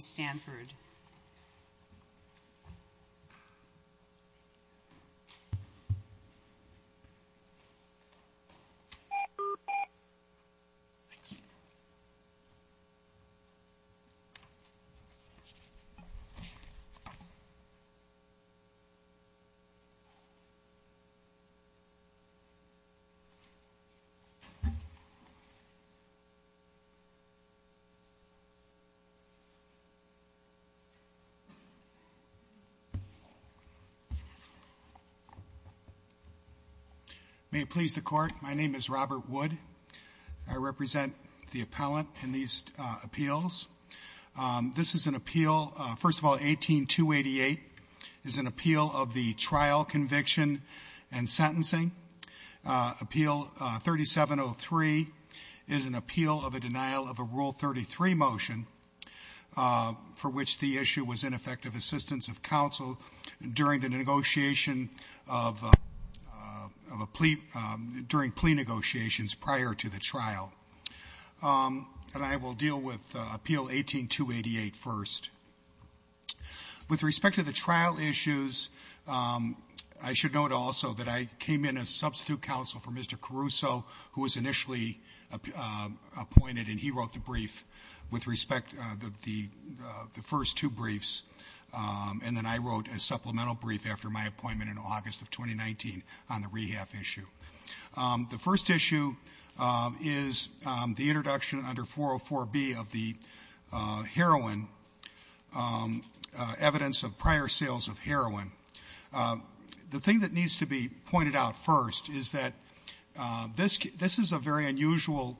Sanford. May it please the Court, my name is Robert Wood. I represent the appellant in these appeals. This is an appeal, first of all, 18-288 is an appeal of the trial conviction and sentencing. Appeal 3703 is an appeal of a denial of a Rule 33 motion for which the issue was ineffective assistance of counsel during the negotiation of a plea, during plea negotiations prior to the trial. And I will deal with appeal 18-288 first. With respect to the trial issues, I should note also that I came in as substitute counsel for Mr. Caruso, who was initially appointed, and he wrote the brief with respect to the first two briefs. And then I wrote a supplemental brief after my appointment in August of 2019 on the rehab issue. The first issue is the introduction under 404b of the heroin, evidence of prior sales of heroin. The thing that needs to be pointed out first is that this is a very unusual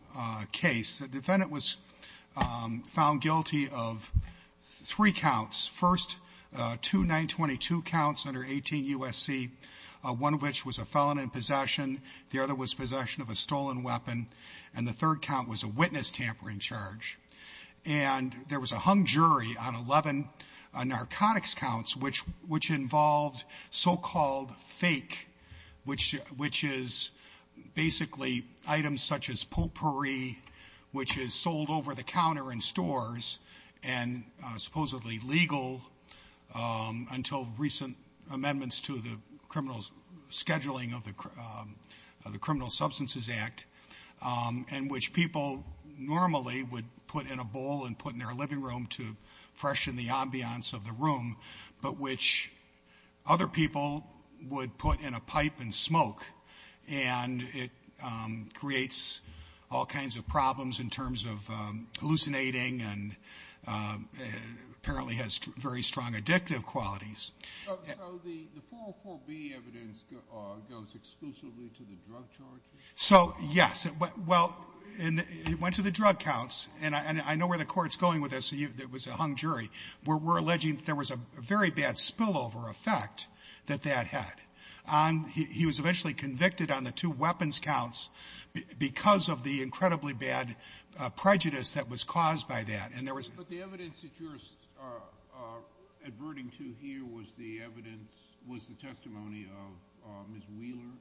case. The defendant was found guilty of three counts. First, two 922 counts under 18 U.S.C., one of which was a felon in possession, the other was possession of a stolen weapon, and the third count was a witness tampering charge. And there was a hung jury on 11 narcotics counts, which involved so-called fake, which is basically items such as potpourri, which is sold over the counter in stores and supposedly legal until recent amendments to the criminal scheduling of the Criminal Substances Act, and which people normally would put in a bowl and put in their living room to freshen the ambiance of the room, but which other people would put in a pipe and smoke, and it creates all kinds of problems in terms of hallucinating and apparently has very strong addictive qualities. So the 404b evidence goes exclusively to the drug charges? So, yes. Well, it went to the drug counts, and I know where the Court's going with this. It was a hung jury. We're alleging there was a very bad spillover effect that that had. He was eventually convicted on the two weapons counts because of the incredibly bad prejudice that was caused by that. And there was — But the evidence that you're adverting to here was the evidence — was the testimony of Ms. Wheeler?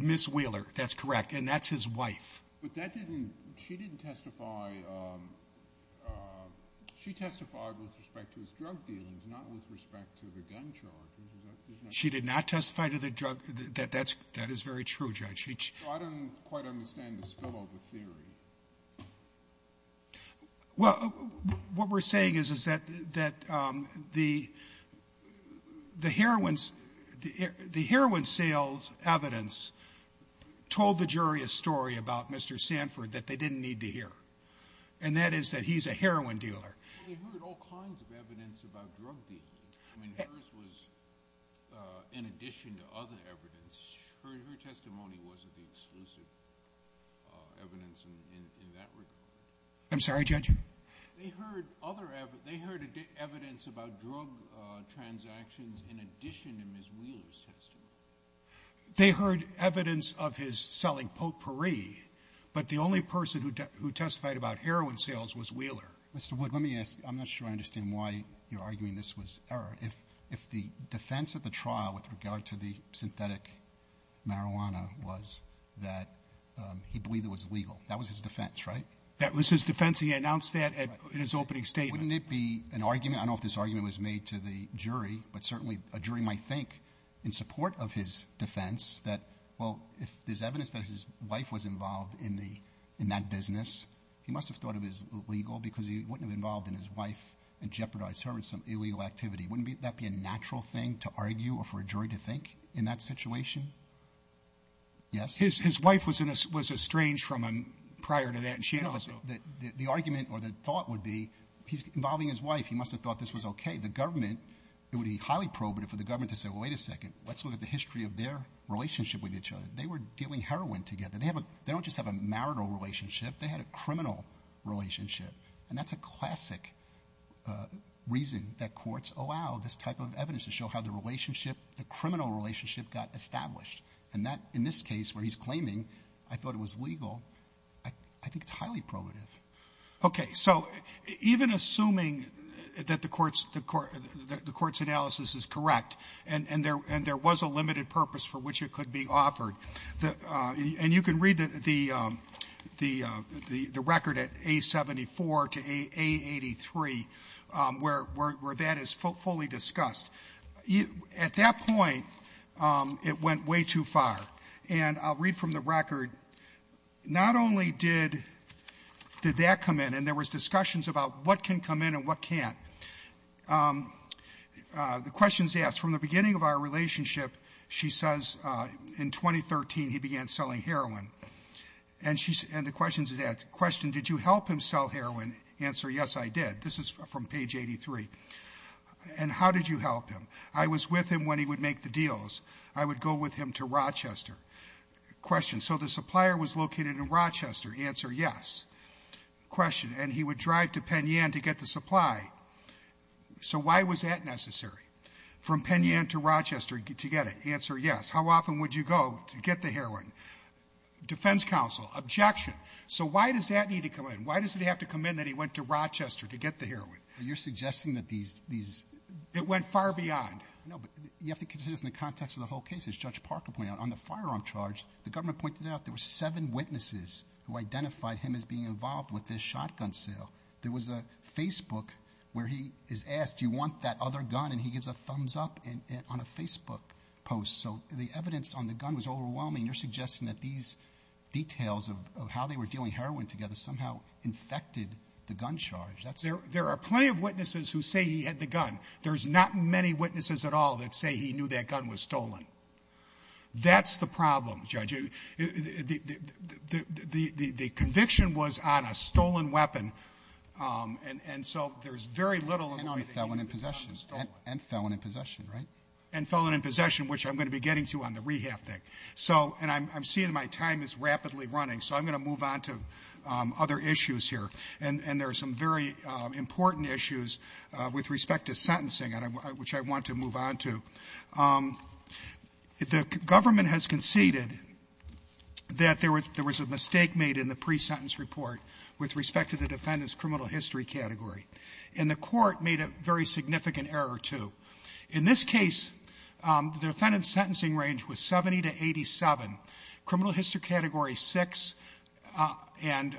Ms. Wheeler. That's correct. And that's his wife. But that didn't — she didn't testify — she testified with respect to his drug dealings, not with respect to the gun charges. She did not testify to the drug — that is very true, Judge. So I don't quite understand the spillover theory. Well, what we're saying is, is that the heroin sales evidence told the jury a story about Mr. Sanford that they didn't need to hear, and that is that he's a heroin dealer. We heard all kinds of evidence about drug dealing. I mean, hers was — in addition to other evidence, her testimony wasn't the exclusive evidence in that regard. I'm sorry, Judge? They heard other — they heard evidence about drug transactions in addition to Ms. Wheeler's testimony. They heard evidence of his selling potpourri, but the only person who testified about heroin sales was Wheeler. Mr. Wood, let me ask — I'm not sure I understand why you're arguing this was error. If the defense of the trial with regard to the synthetic marijuana was that he believed it was legal, that was his defense, right? That was his defense, and he announced that in his opening statement. Wouldn't it be an argument — I don't know if this argument was made to the jury, but certainly a jury might think, in support of his defense, that, well, if there's evidence that his wife was involved in that business, he must have thought it was illegal because he wouldn't have involved in his wife and jeopardized her in some illegal activity. Wouldn't that be a natural thing to argue or for a jury to think in that situation? Yes? His wife was estranged from him prior to that, and she also — The argument or the thought would be, he's involving his wife. He must have thought this was OK. The government — it would be highly probative for the government to say, well, wait a second, let's look at the history of their relationship with each other. They were dealing heroin together. They don't just have a marital relationship. They had a criminal relationship, and that's a classic reason that courts allow this type of evidence to show how the relationship, the criminal relationship, got established. And that, in this case where he's claiming, I thought it was legal, I think it's highly probative. OK. So even assuming that the court's analysis is correct and there was a limited purpose for which it could be offered, and you can read the record at A-74 to A-83 where that is fully discussed. At that point, it went way too far. And I'll read from the record. Not only did that come in, and there was discussions about what can come in and what can't. The question is asked, from the beginning of our relationship, she says in 2013 he began selling heroin. And the question is asked, question, did you help him sell heroin? Answer, yes, I did. This is from page 83. And how did you help him? I was with him when he would make the deals. I would go with him to Rochester. Question, so the supplier was located in Rochester? Answer, yes. Question, and he would drive to Penn Yen to get the supply. So why was that necessary? From Penn Yen to Rochester to get it? Answer, yes. How often would you go to get the heroin? Defense counsel, objection. So why does that need to come in? Why does it have to come in that he went to Rochester to get the heroin? You're suggesting that these ---- It went far beyond. No, but you have to consider this in the context of the whole case, as Judge Parker pointed out. On the firearm charge, the government pointed out there were seven witnesses who identified him as being involved with this shotgun sale. There was a Facebook where he is asked, do you want that other gun? And he gives a thumbs-up on a Facebook post. So the evidence on the gun was overwhelming. You're suggesting that these details of how they were dealing heroin together somehow infected the gun charge. There are plenty of witnesses who say he had the gun. There's not many witnesses at all that say he knew that gun was stolen. That's the problem, Judge. The conviction was on a stolen weapon, and so there's very little ---- And on a felon in possession. And felon in possession, right? And felon in possession, which I'm going to be getting to on the rehab thing. So ---- and I'm seeing my time is rapidly running, so I'm going to move on to other issues here. And there are some very important issues with respect to sentencing, which I want to move on to. The government has conceded that there was a mistake made in the pre-sentence report with respect to the defendant's criminal history category. And the Court made a very significant error, too. In this case, the defendant's sentencing range was 70 to 87, criminal history category 6, and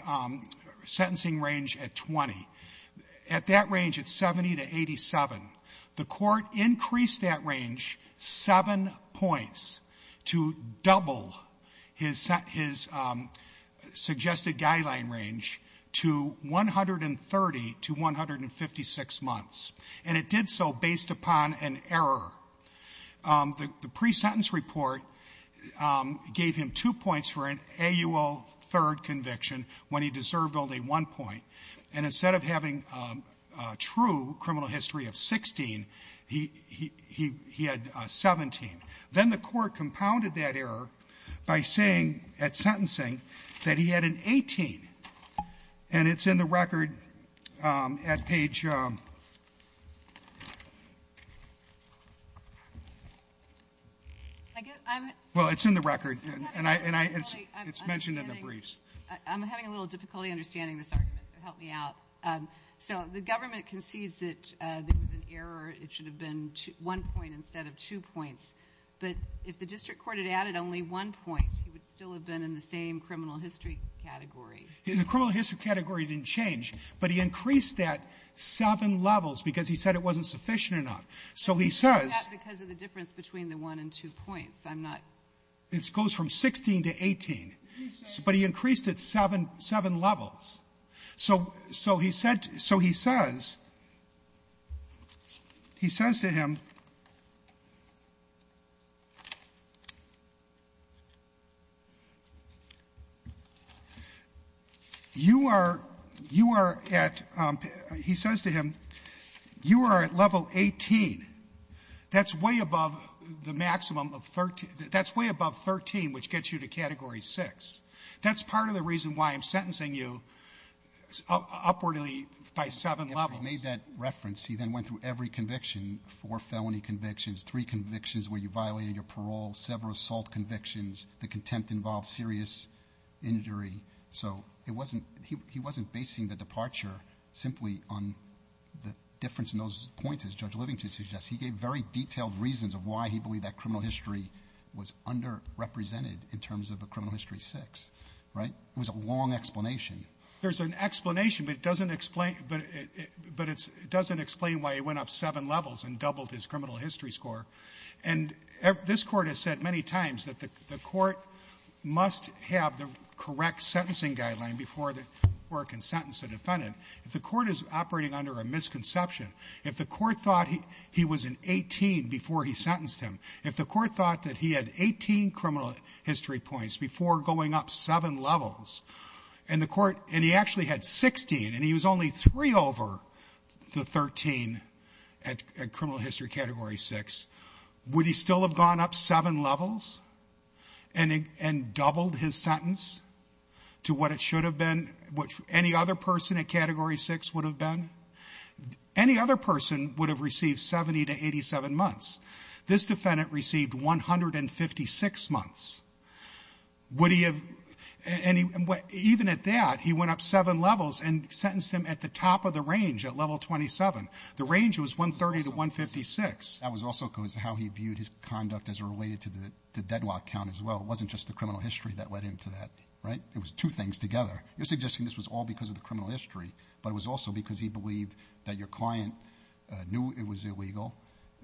sentencing range at 20. At that range, it's 70 to 87. The Court increased that range 7 points to double his suggested guideline range to 130 to 156 months. And it did so based upon an error. The pre-sentence report gave him two points for an AUL third conviction when he deserved only one point. And instead of having a true criminal history of 16, he had 17. Then the Court compounded that error by saying at sentencing that he had an 18. And it's in the record at page — well, it's in the record, and it's mentioned in the briefs. I'm having a little difficulty understanding this argument, so help me out. So the government concedes that there was an error. It should have been one point instead of two points. But if the district court had added only one point, he would still have been in the same criminal history category. The criminal history category didn't change, but he increased that seven levels because he said it wasn't sufficient enough. So he says — He did that because of the difference between the one and two points. I'm not — It goes from 16 to 18. But he increased it seven levels. So he said — so he says — he says to him — You are — you are at — he says to him, you are at level 18. That's way above the maximum of 13. That's way above 13, which gets you to Category 6. That's part of the reason why I'm sentencing you upwardly by seven levels. He made that reference. He then went through every conviction, four felony convictions, three convictions where you violated your parole, several assault convictions, the contempt-involved serious injury. So it wasn't — he wasn't basing the departure simply on the difference in those points, as Judge Livingston suggests. He gave very detailed reasons of why he believed that criminal history was underrepresented in terms of a criminal history 6, right? It was a long explanation. There's an explanation, but it doesn't explain — but it doesn't explain why he went up seven levels and doubled his criminal history score. And this Court has said many times that the Court must have the correct sentencing guideline before it can sentence a defendant. If the Court is operating under a misconception, if the Court thought he was an 18 before he sentenced him, if the Court thought that he had 18 criminal history points before going up seven levels, and the Court — and he actually had 16, and he was only three over the 13 at criminal history Category 6, would he still have gone up seven levels and doubled his sentence to what it should have been, which any other person at Category 6 would have been? Any other person would have received 70 to 87 months. This defendant received 156 months. Would he have — and he — even at that, he went up seven levels and sentenced him at the top of the range, at Level 27. The range was 130 to 156. That was also because of how he viewed his conduct as related to the deadlock count as well. It wasn't just the criminal history that led him to that, right? It was two things together. You're suggesting this was all because of the criminal history, but it was also because he believed that your client knew it was illegal,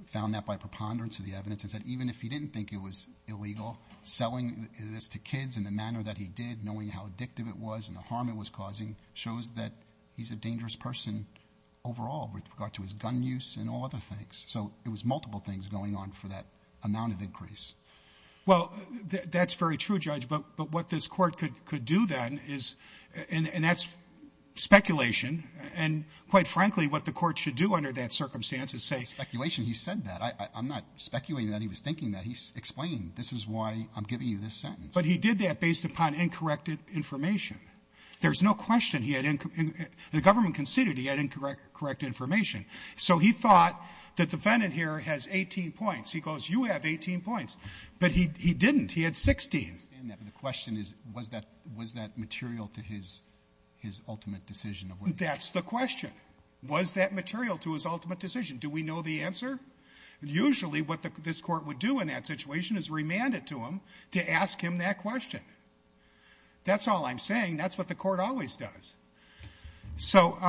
found that by preponderance of the evidence, and said even if he didn't think it was illegal, selling this to kids in the manner that he did, knowing how addictive it was and the harm it was causing, shows that he's a dangerous person overall with regard to his gun use and all other things. So it was multiple things going on for that amount of increase. Well, that's very true, Judge, but what this Court could do then is — and that's speculation. And quite frankly, what the Court should do under that circumstance is say — Speculation? He said that. I'm not speculating that he was thinking that. He explained, this is why I'm giving you this sentence. But he did that based upon incorrect information. There's no question he had — the government conceded he had incorrect information. So he thought the defendant here has 18 points. He goes, you have 18 points. But he didn't. He had 16. I understand that, but the question is, was that material to his ultimate decision of what he did? That's the question. Was that material to his ultimate decision? Do we know the answer? Usually, what this Court would do in that situation is remand it to him to ask him that question. That's all I'm saying. That's what the Court always does. So —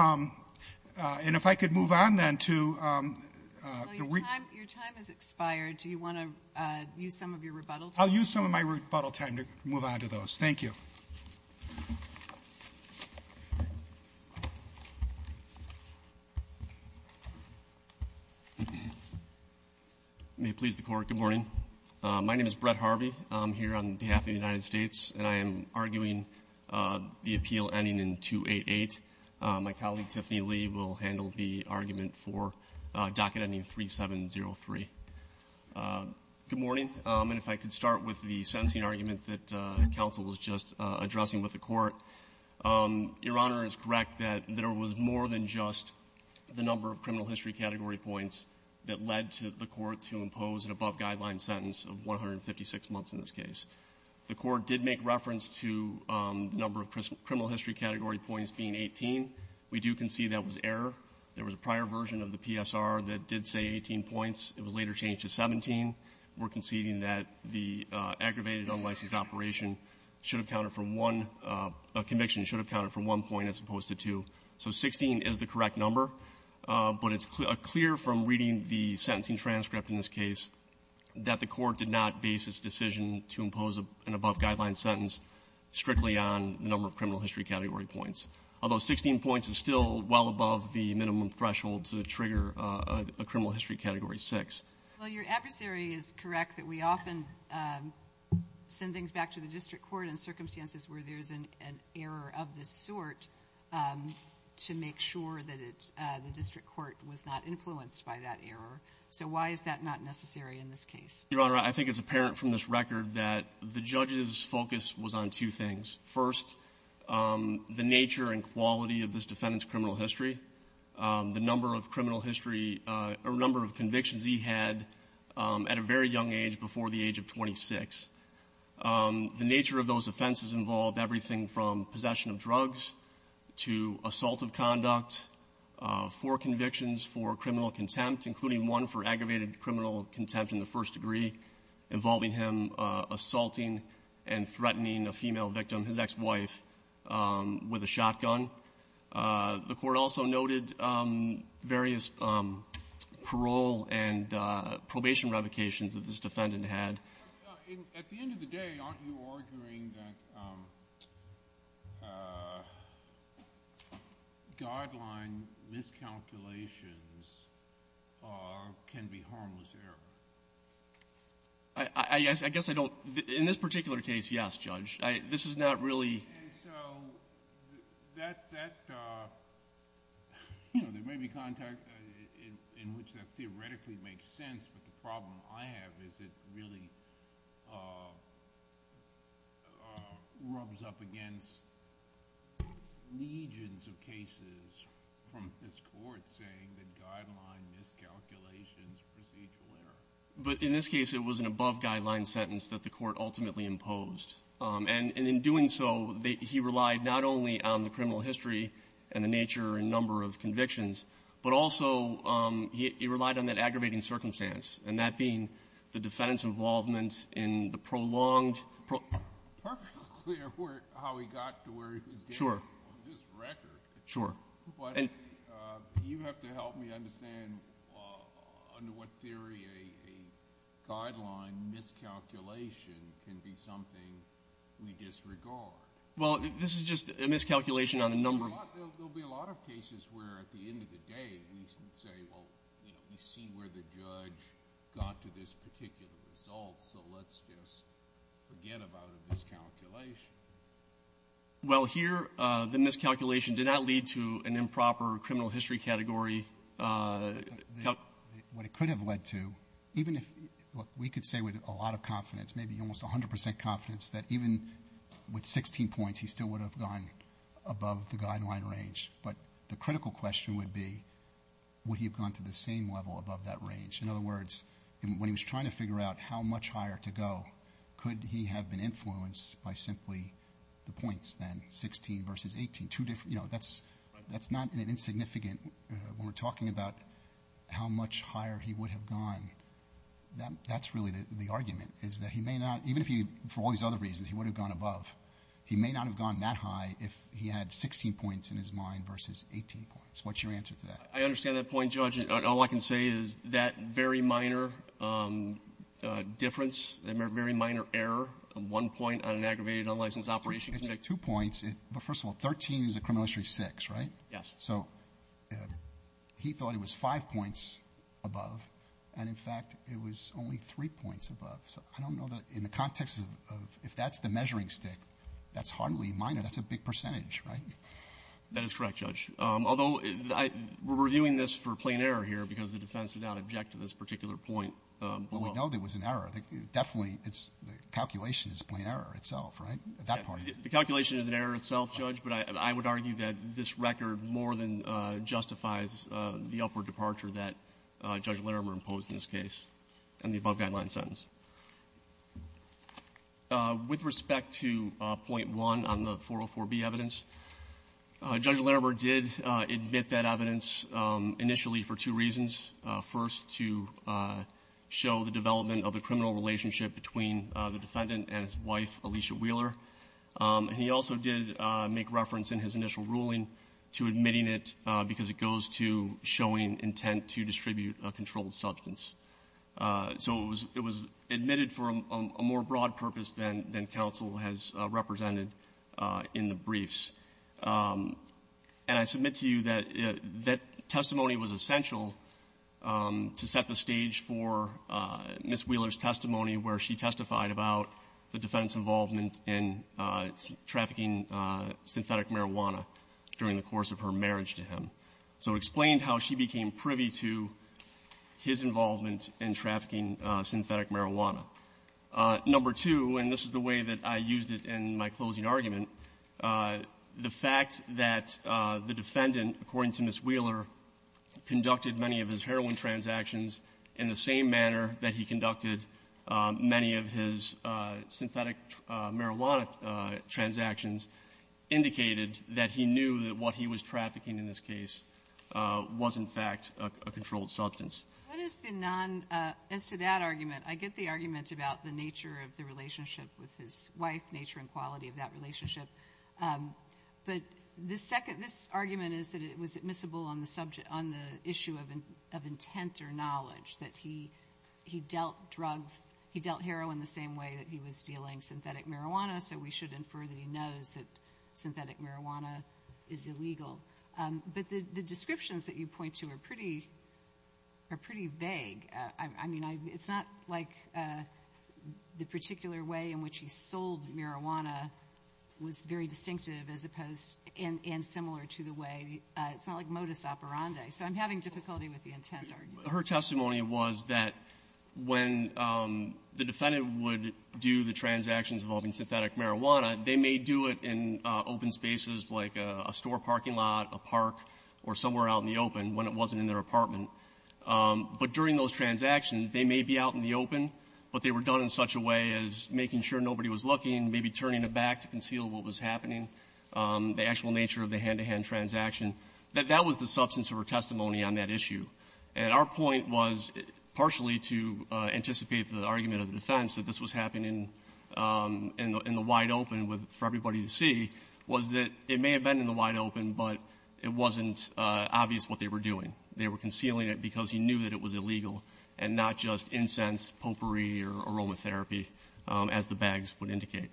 and if I could move on then to — Your time has expired. Do you want to use some of your rebuttal time? I'll use some of my rebuttal time to move on to those. Thank you. May it please the Court, good morning. My name is Brett Harvey. I'm here on behalf of the United States, and I am arguing the appeal ending in 288. My colleague, Tiffany Lee, will handle the argument for docket ending 3703. Good morning. And if I could start with the sentencing argument that counsel was just addressing with the Court. Your Honor is correct that there was more than just the number of criminal history category points that led the Court to impose an above-guideline sentence of 156 months in this case. The Court did make reference to the number of criminal history category points being 18. We do concede that was error. There was a prior version of the PSR that did say 18 points. It was later changed to 17. We're conceding that the aggravated unlicensed operation should have counted from one — a conviction should have counted from one point as opposed to two. So 16 is the correct number, but it's clear from reading the sentencing transcript in this case that the Court did not base its decision to impose an above-guideline sentence strictly on the number of criminal history category points, although 16 points is still well above the minimum threshold to trigger a criminal history category 6. Well, your adversary is correct that we often send things back to the district court in circumstances where there's an error of this sort to make sure that the district court was not influenced by that error. So why is that not necessary in this case? Your Honor, I think it's apparent from this record that the judge's focus was on two things. First, the nature and quality of this defendant's criminal history, the number of convictions he had at a very young age, before the age of 26. The nature of those offenses involved everything from possession of drugs to assault of conduct, four convictions for criminal contempt, including one for aggravated criminal contempt in the first degree, involving him assaulting and threatening a female victim, his ex-wife, with a shotgun. The court also noted various parole and probation revocations that this defendant had. At the end of the day, aren't you arguing that guideline miscalculations can be harmless error? I guess I don't. In this particular case, yes, Judge. This is not really. And so there may be context in which that theoretically makes sense, but the problem I have is it really rubs up against legions of cases from this court saying that guideline miscalculations are procedural error. But in this case, it was an above-guideline sentence that the court ultimately imposed. And in doing so, he relied not only on the criminal history and the nature and number of convictions, but also he relied on that aggravating circumstance, and that being the defendant's involvement in the prolonged. It's perfectly clear how he got to where he was getting to on this record. Sure. But you have to help me understand under what theory a guideline miscalculation can be something we disregard. Well, this is just a miscalculation on a number of. There will be a lot of cases where at the end of the day we say, well, we see where the judge got to this particular result, so let's just forget about a miscalculation. Well, here the miscalculation did not lead to an improper criminal history category. What it could have led to, even if we could say with a lot of confidence, maybe almost 100 percent confidence, that even with 16 points he still would have gone above the guideline range. But the critical question would be would he have gone to the same level above that range? In other words, when he was trying to figure out how much higher to go, could he have been influenced by simply the points then, 16 versus 18? That's not insignificant when we're talking about how much higher he would have gone. That's really the argument, is that he may not, even if he, for all these other reasons, he would have gone above, he may not have gone that high if he had 16 points in his mind versus 18 points. What's your answer to that? I understand that point, Judge, and all I can say is that very minor difference, a very minor error, one point on an aggravated unlicensed operation can make two points. But first of all, 13 is a criminal history six, right? Yes. So he thought it was five points above, and, in fact, it was only three points above. So I don't know that in the context of if that's the measuring stick, that's hardly minor. That's a big percentage, right? That is correct, Judge. Although we're reviewing this for plain error here because the defense did not object to this particular point. But we know there was an error. Definitely the calculation is a plain error itself, right, at that point? The calculation is an error itself, Judge. But I would argue that this record more than justifies the upward departure that Judge Larimer imposed in this case and the above guideline sentence. With respect to point one on the 404B evidence, Judge Larimer did admit that evidence initially for two reasons. First, to show the development of the criminal relationship between the defendant and his wife, Alicia Wheeler. And he also did make reference in his initial ruling to admitting it because it goes to showing intent to distribute a controlled substance. So it was admitted for a more broad purpose than counsel has represented in the briefs. And I submit to you that that testimony was essential to set the stage for Ms. Wheeler's involvement in trafficking synthetic marijuana during the course of her marriage to him. So it explained how she became privy to his involvement in trafficking synthetic marijuana. Number two, and this is the way that I used it in my closing argument, the fact that the defendant, according to Ms. Wheeler, conducted many of his heroin transactions in the same manner that he conducted many of his synthetic marijuana transactions indicated that he knew that what he was trafficking in this case was, in fact, a controlled substance. What is the non-as to that argument? I get the argument about the nature of the relationship with his wife, nature and quality of that relationship. But the second, this argument is that it was admissible on the subject, on the issue of intent or knowledge that he dealt drugs, he dealt heroin the same way that he was dealing synthetic marijuana. So we should infer that he knows that synthetic marijuana is illegal. But the descriptions that you point to are pretty vague. I mean, it's not like the particular way in which he sold marijuana was very distinctive as opposed and similar to the way, it's not like modus operandi. So I'm having difficulty with the intent argument. Her testimony was that when the defendant would do the transactions involving synthetic marijuana, they may do it in open spaces like a store parking lot, a park, or somewhere out in the open when it wasn't in their apartment. But during those transactions, they may be out in the open, but they were done in such a way as making sure nobody was looking, maybe turning it back to conceal what was happening, the actual nature of the hand-to-hand transaction. That that was the substance of her testimony on that issue. And our point was, partially to anticipate the argument of the defense, that this was happening in the wide open for everybody to see, was that it may have been in the wide open, but it wasn't obvious what they were doing. They were concealing it because he knew that it was illegal and not just incense, potpourri, or aromatherapy, as the bags would indicate.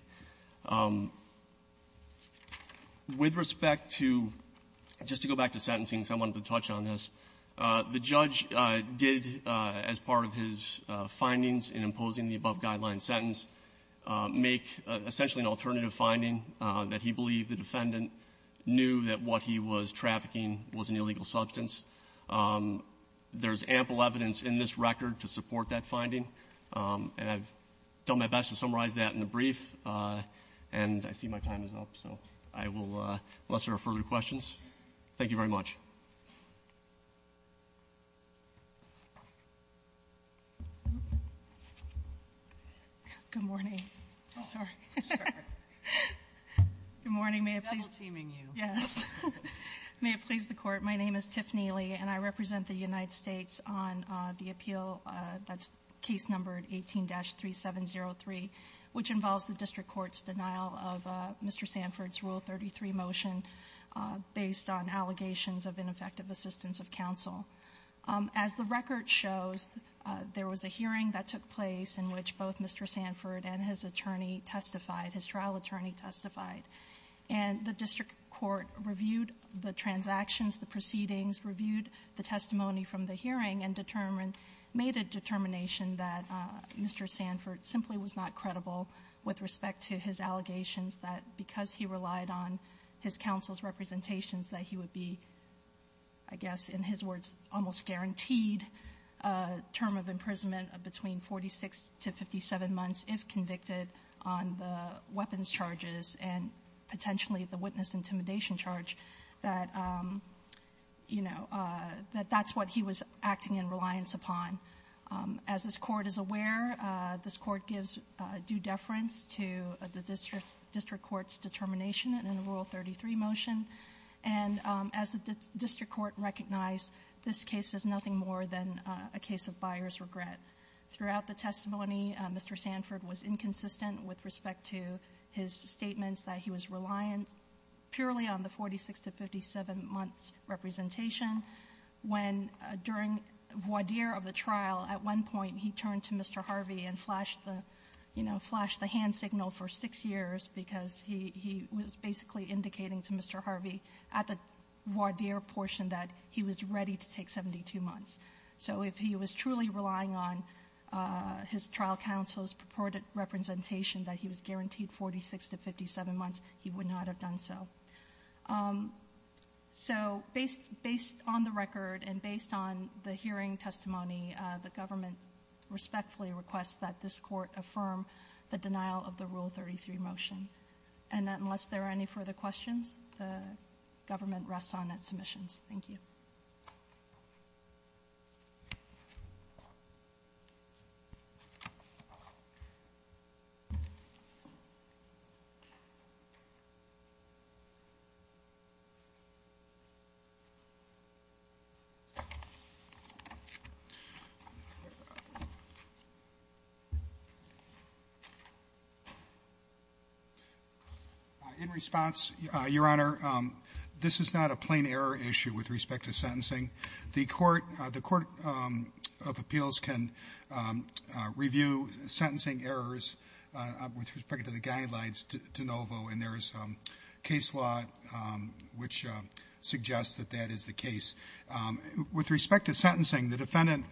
With respect to — just to go back to sentencing, because I wanted to touch on this, the judge did, as part of his findings in imposing the above-guideline sentence, make essentially an alternative finding that he believed the defendant knew that what he was trafficking was an illegal substance. There's ample evidence in this record to support that finding, and I've done my best to summarize that in the brief, and I see my time is up. So I will — unless there are further questions. Thank you very much. Good morning. Sorry. I'm sorry. Good morning. May I please — I'm double-teaming you. Yes. May it please the Court, my name is Tiffany Lee, and I represent the United States on the appeal that's case number 18-3703, which involves the district court's denial of Mr. Sanford's Rule 33 motion based on allegations of ineffective assistance of counsel. As the record shows, there was a hearing that took place in which both Mr. Sanford and his attorney testified, his trial attorney testified, and the district court reviewed the transactions, the proceedings, reviewed the testimony from the hearing, and determined — made a determination that Mr. Sanford simply was not credible with respect to his allegations that because he relied on his counsel's representations that he would be, I guess in his words, almost guaranteed a term of imprisonment between 46 to 57 months if convicted on the weapons charges and potentially the witness intimidation charge that, you know, that that's what he was acting in reliance upon. As this Court is aware, this Court gives due deference to the district court's determination in the Rule 33 motion, and as the district court recognized, this case is nothing more than a case of buyer's regret. Throughout the testimony, Mr. Sanford was inconsistent with respect to his statements that he was reliant purely on the 46 to 57 months representation when during voir dire of the trial, at one point he turned to Mr. Harvey and flashed the — you know, flashed the hand signal for six years because he was basically indicating to Mr. Harvey at the voir dire portion that he was ready to take 72 months. So if he was truly relying on his trial counsel's purported representation that he was guaranteed 46 to 57 months, he would not have done so. So based on the record and based on the hearing testimony, the government respectfully requests that this Court affirm the denial of the Rule 33 motion. And unless there are any further questions, the government rests on its submissions. Thank you. In response, Your Honor, this is not a plain error issue with respect to sentencing. The Court of Appeals can review sentencing errors with respect to the guidelines de novo, and there is case law which suggests that that is the case. With respect to sentencing, the defendant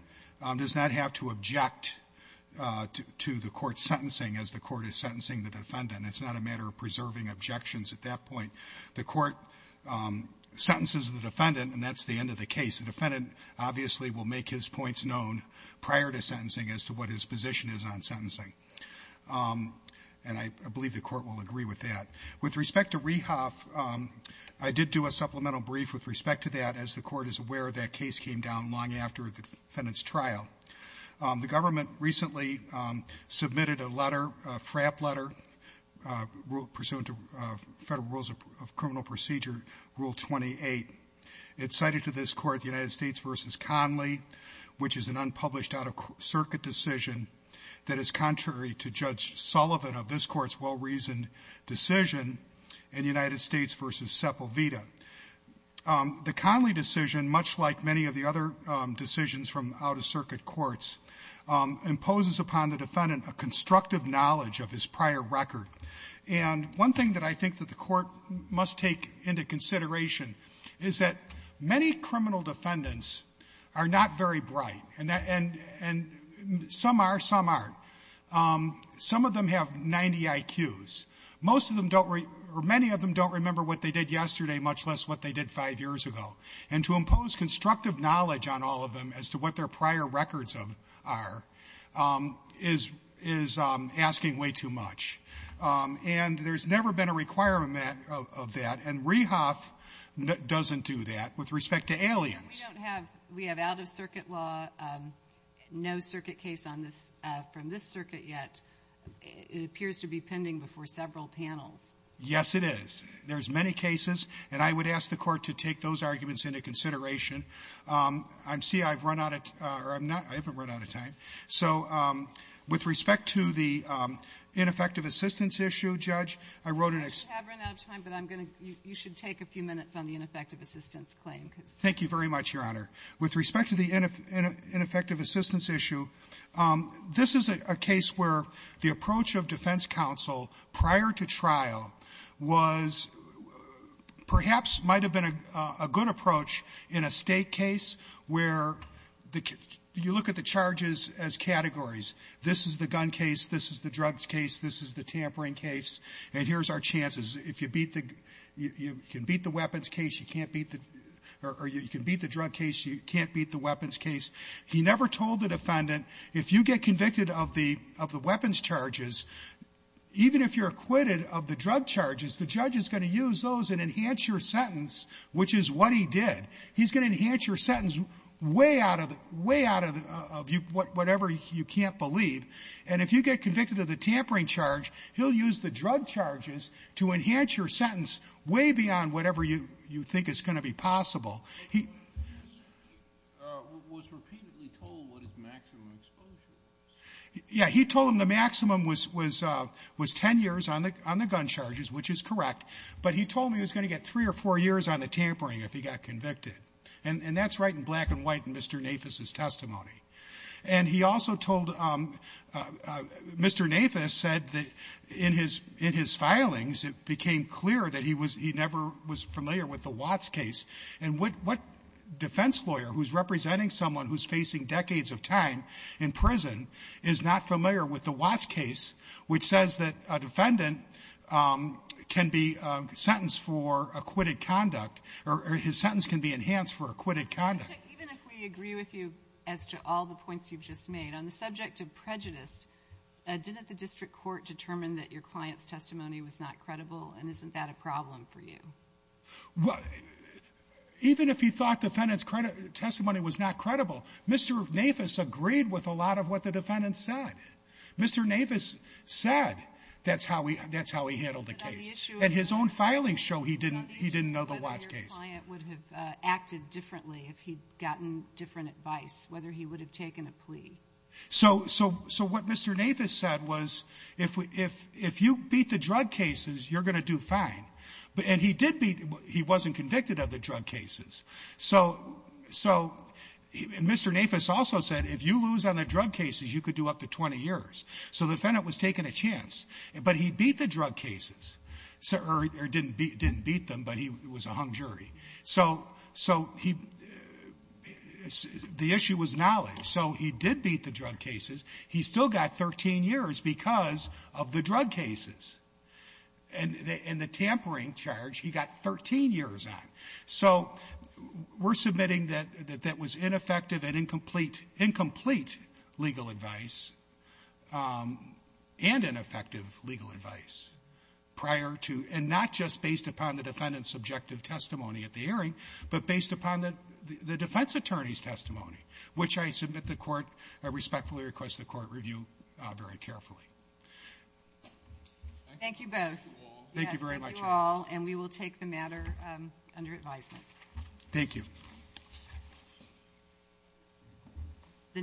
does not have to object to the court's sentencing as the court is sentencing the defendant. It's not a matter of preserving objections at that point. The court sentences the defendant, and that's the end of the case. The defendant obviously will make his points known prior to sentencing as to what his position is on sentencing, and I believe the Court will agree with that. With respect to Rehoff, I did do a supplemental brief with respect to that, as the Court is aware that case came down long after the defendant's trial. The government recently submitted a letter, a frap letter, pursuant to Federal Rules of Criminal Procedure, Rule 28. It cited to this Court the United States v. Conley, which is an unpublished out-of-circuit decision that is contrary to Judge Sullivan of this Court's well-reasoned decision in United States v. Sepulveda. The Conley decision, much like many of the other decisions from out-of-circuit courts, imposes upon the defendant a constructive knowledge of his prior record. And one thing that I think that the Court must take into consideration is that many criminal defendants are not very bright, and some are, some aren't. Some of them have 90 IQs. Most of them don't or many of them don't remember what they did yesterday, much less what they did five years ago. And to impose constructive knowledge on all of them as to what their prior records are, is asking way too much. And there's never been a requirement of that, and Rehoff doesn't do that. With respect to Aliens. We don't have, we have out-of-circuit law, no circuit case on this, from this circuit yet. It appears to be pending before several panels. Yes, it is. There's many cases, and I would ask the Court to take those arguments into consideration. I see I've run out of, or I'm not, I haven't run out of time. So with respect to the ineffective assistance issue, Judge, I wrote an ex- I have run out of time, but I'm going to, you should take a few minutes on the ineffective assistance claim. Thank you very much, Your Honor. With respect to the ineffective assistance issue, this is a case where the approach of defense counsel prior to trial was perhaps might have been a good approach in a State case where the, you look at the charges as categories. This is the gun case. This is the drugs case. This is the tampering case. And here's our chances. If you beat the, you can beat the weapons case. You can't beat the, or you can beat the drug case. You can't beat the weapons case. He never told the defendant, if you get convicted of the, of the weapons charges, even if you're acquitted of the drug charges, the judge is going to use those and enhance your sentence, which is what he did. He's going to enhance your sentence way out of the, way out of the, whatever you can't believe. And if you get convicted of the tampering charge, he'll use the drug charges to enhance your sentence way beyond whatever you, you think is going to be possible. He. He was repeatedly told what his maximum exposure was. Yeah. He told him the maximum was, was, was 10 years on the, on the gun charges, which is correct. But he told me he was going to get three or four years on the tampering if he got convicted. And, and that's right in black and white in Mr. Nafis' testimony. And he also told, Mr. Nafis said that in his, in his filings, it became clear that he was, he never was familiar with the Watts case. And what, what defense lawyer who's representing someone who's facing decades of time in prison is not familiar with the Watts case, which says that a defendant can be sentenced for acquitted conduct, or his sentence can be enhanced for acquitted conduct? Even if we agree with you as to all the points you've just made, on the subject of prejudice, didn't the district court determine that your client's testimony was not credible? And isn't that a problem for you? Well, even if he thought defendant's testimony was not credible, Mr. Nafis agreed with a lot of what the defendant said. Mr. Nafis said that's how he, that's how he handled the case. And his own filings show he didn't, he didn't know the Watts case. Whether your client would have acted differently if he'd gotten different advice, whether he would have taken a plea. So, so, so what Mr. Nafis said was, if we, if, if you beat the drug cases, you're going to do fine. But, and he did beat, he wasn't convicted of the drug cases. So, so, Mr. Nafis also said, if you lose on the drug cases, you could do up to 20 years. So the defendant was taking a chance. But he beat the drug cases. Or, or didn't beat, didn't beat them, but he was a hung jury. So, so he, the issue was knowledge. So he did beat the drug cases. He still got 13 years because of the drug cases. And the, and the tampering charge, he got 13 years on. So we're submitting that, that that was ineffective and incomplete, incomplete legal advice, and ineffective legal advice prior to, and not just based upon the defendant's subjective testimony at the hearing, but based upon the, the defense attorney's testimony, which I submit the court, I respectfully request the court review very carefully. Thank you both. Thank you very much. Thank you all. And we will take the matter under advisement. Thank you.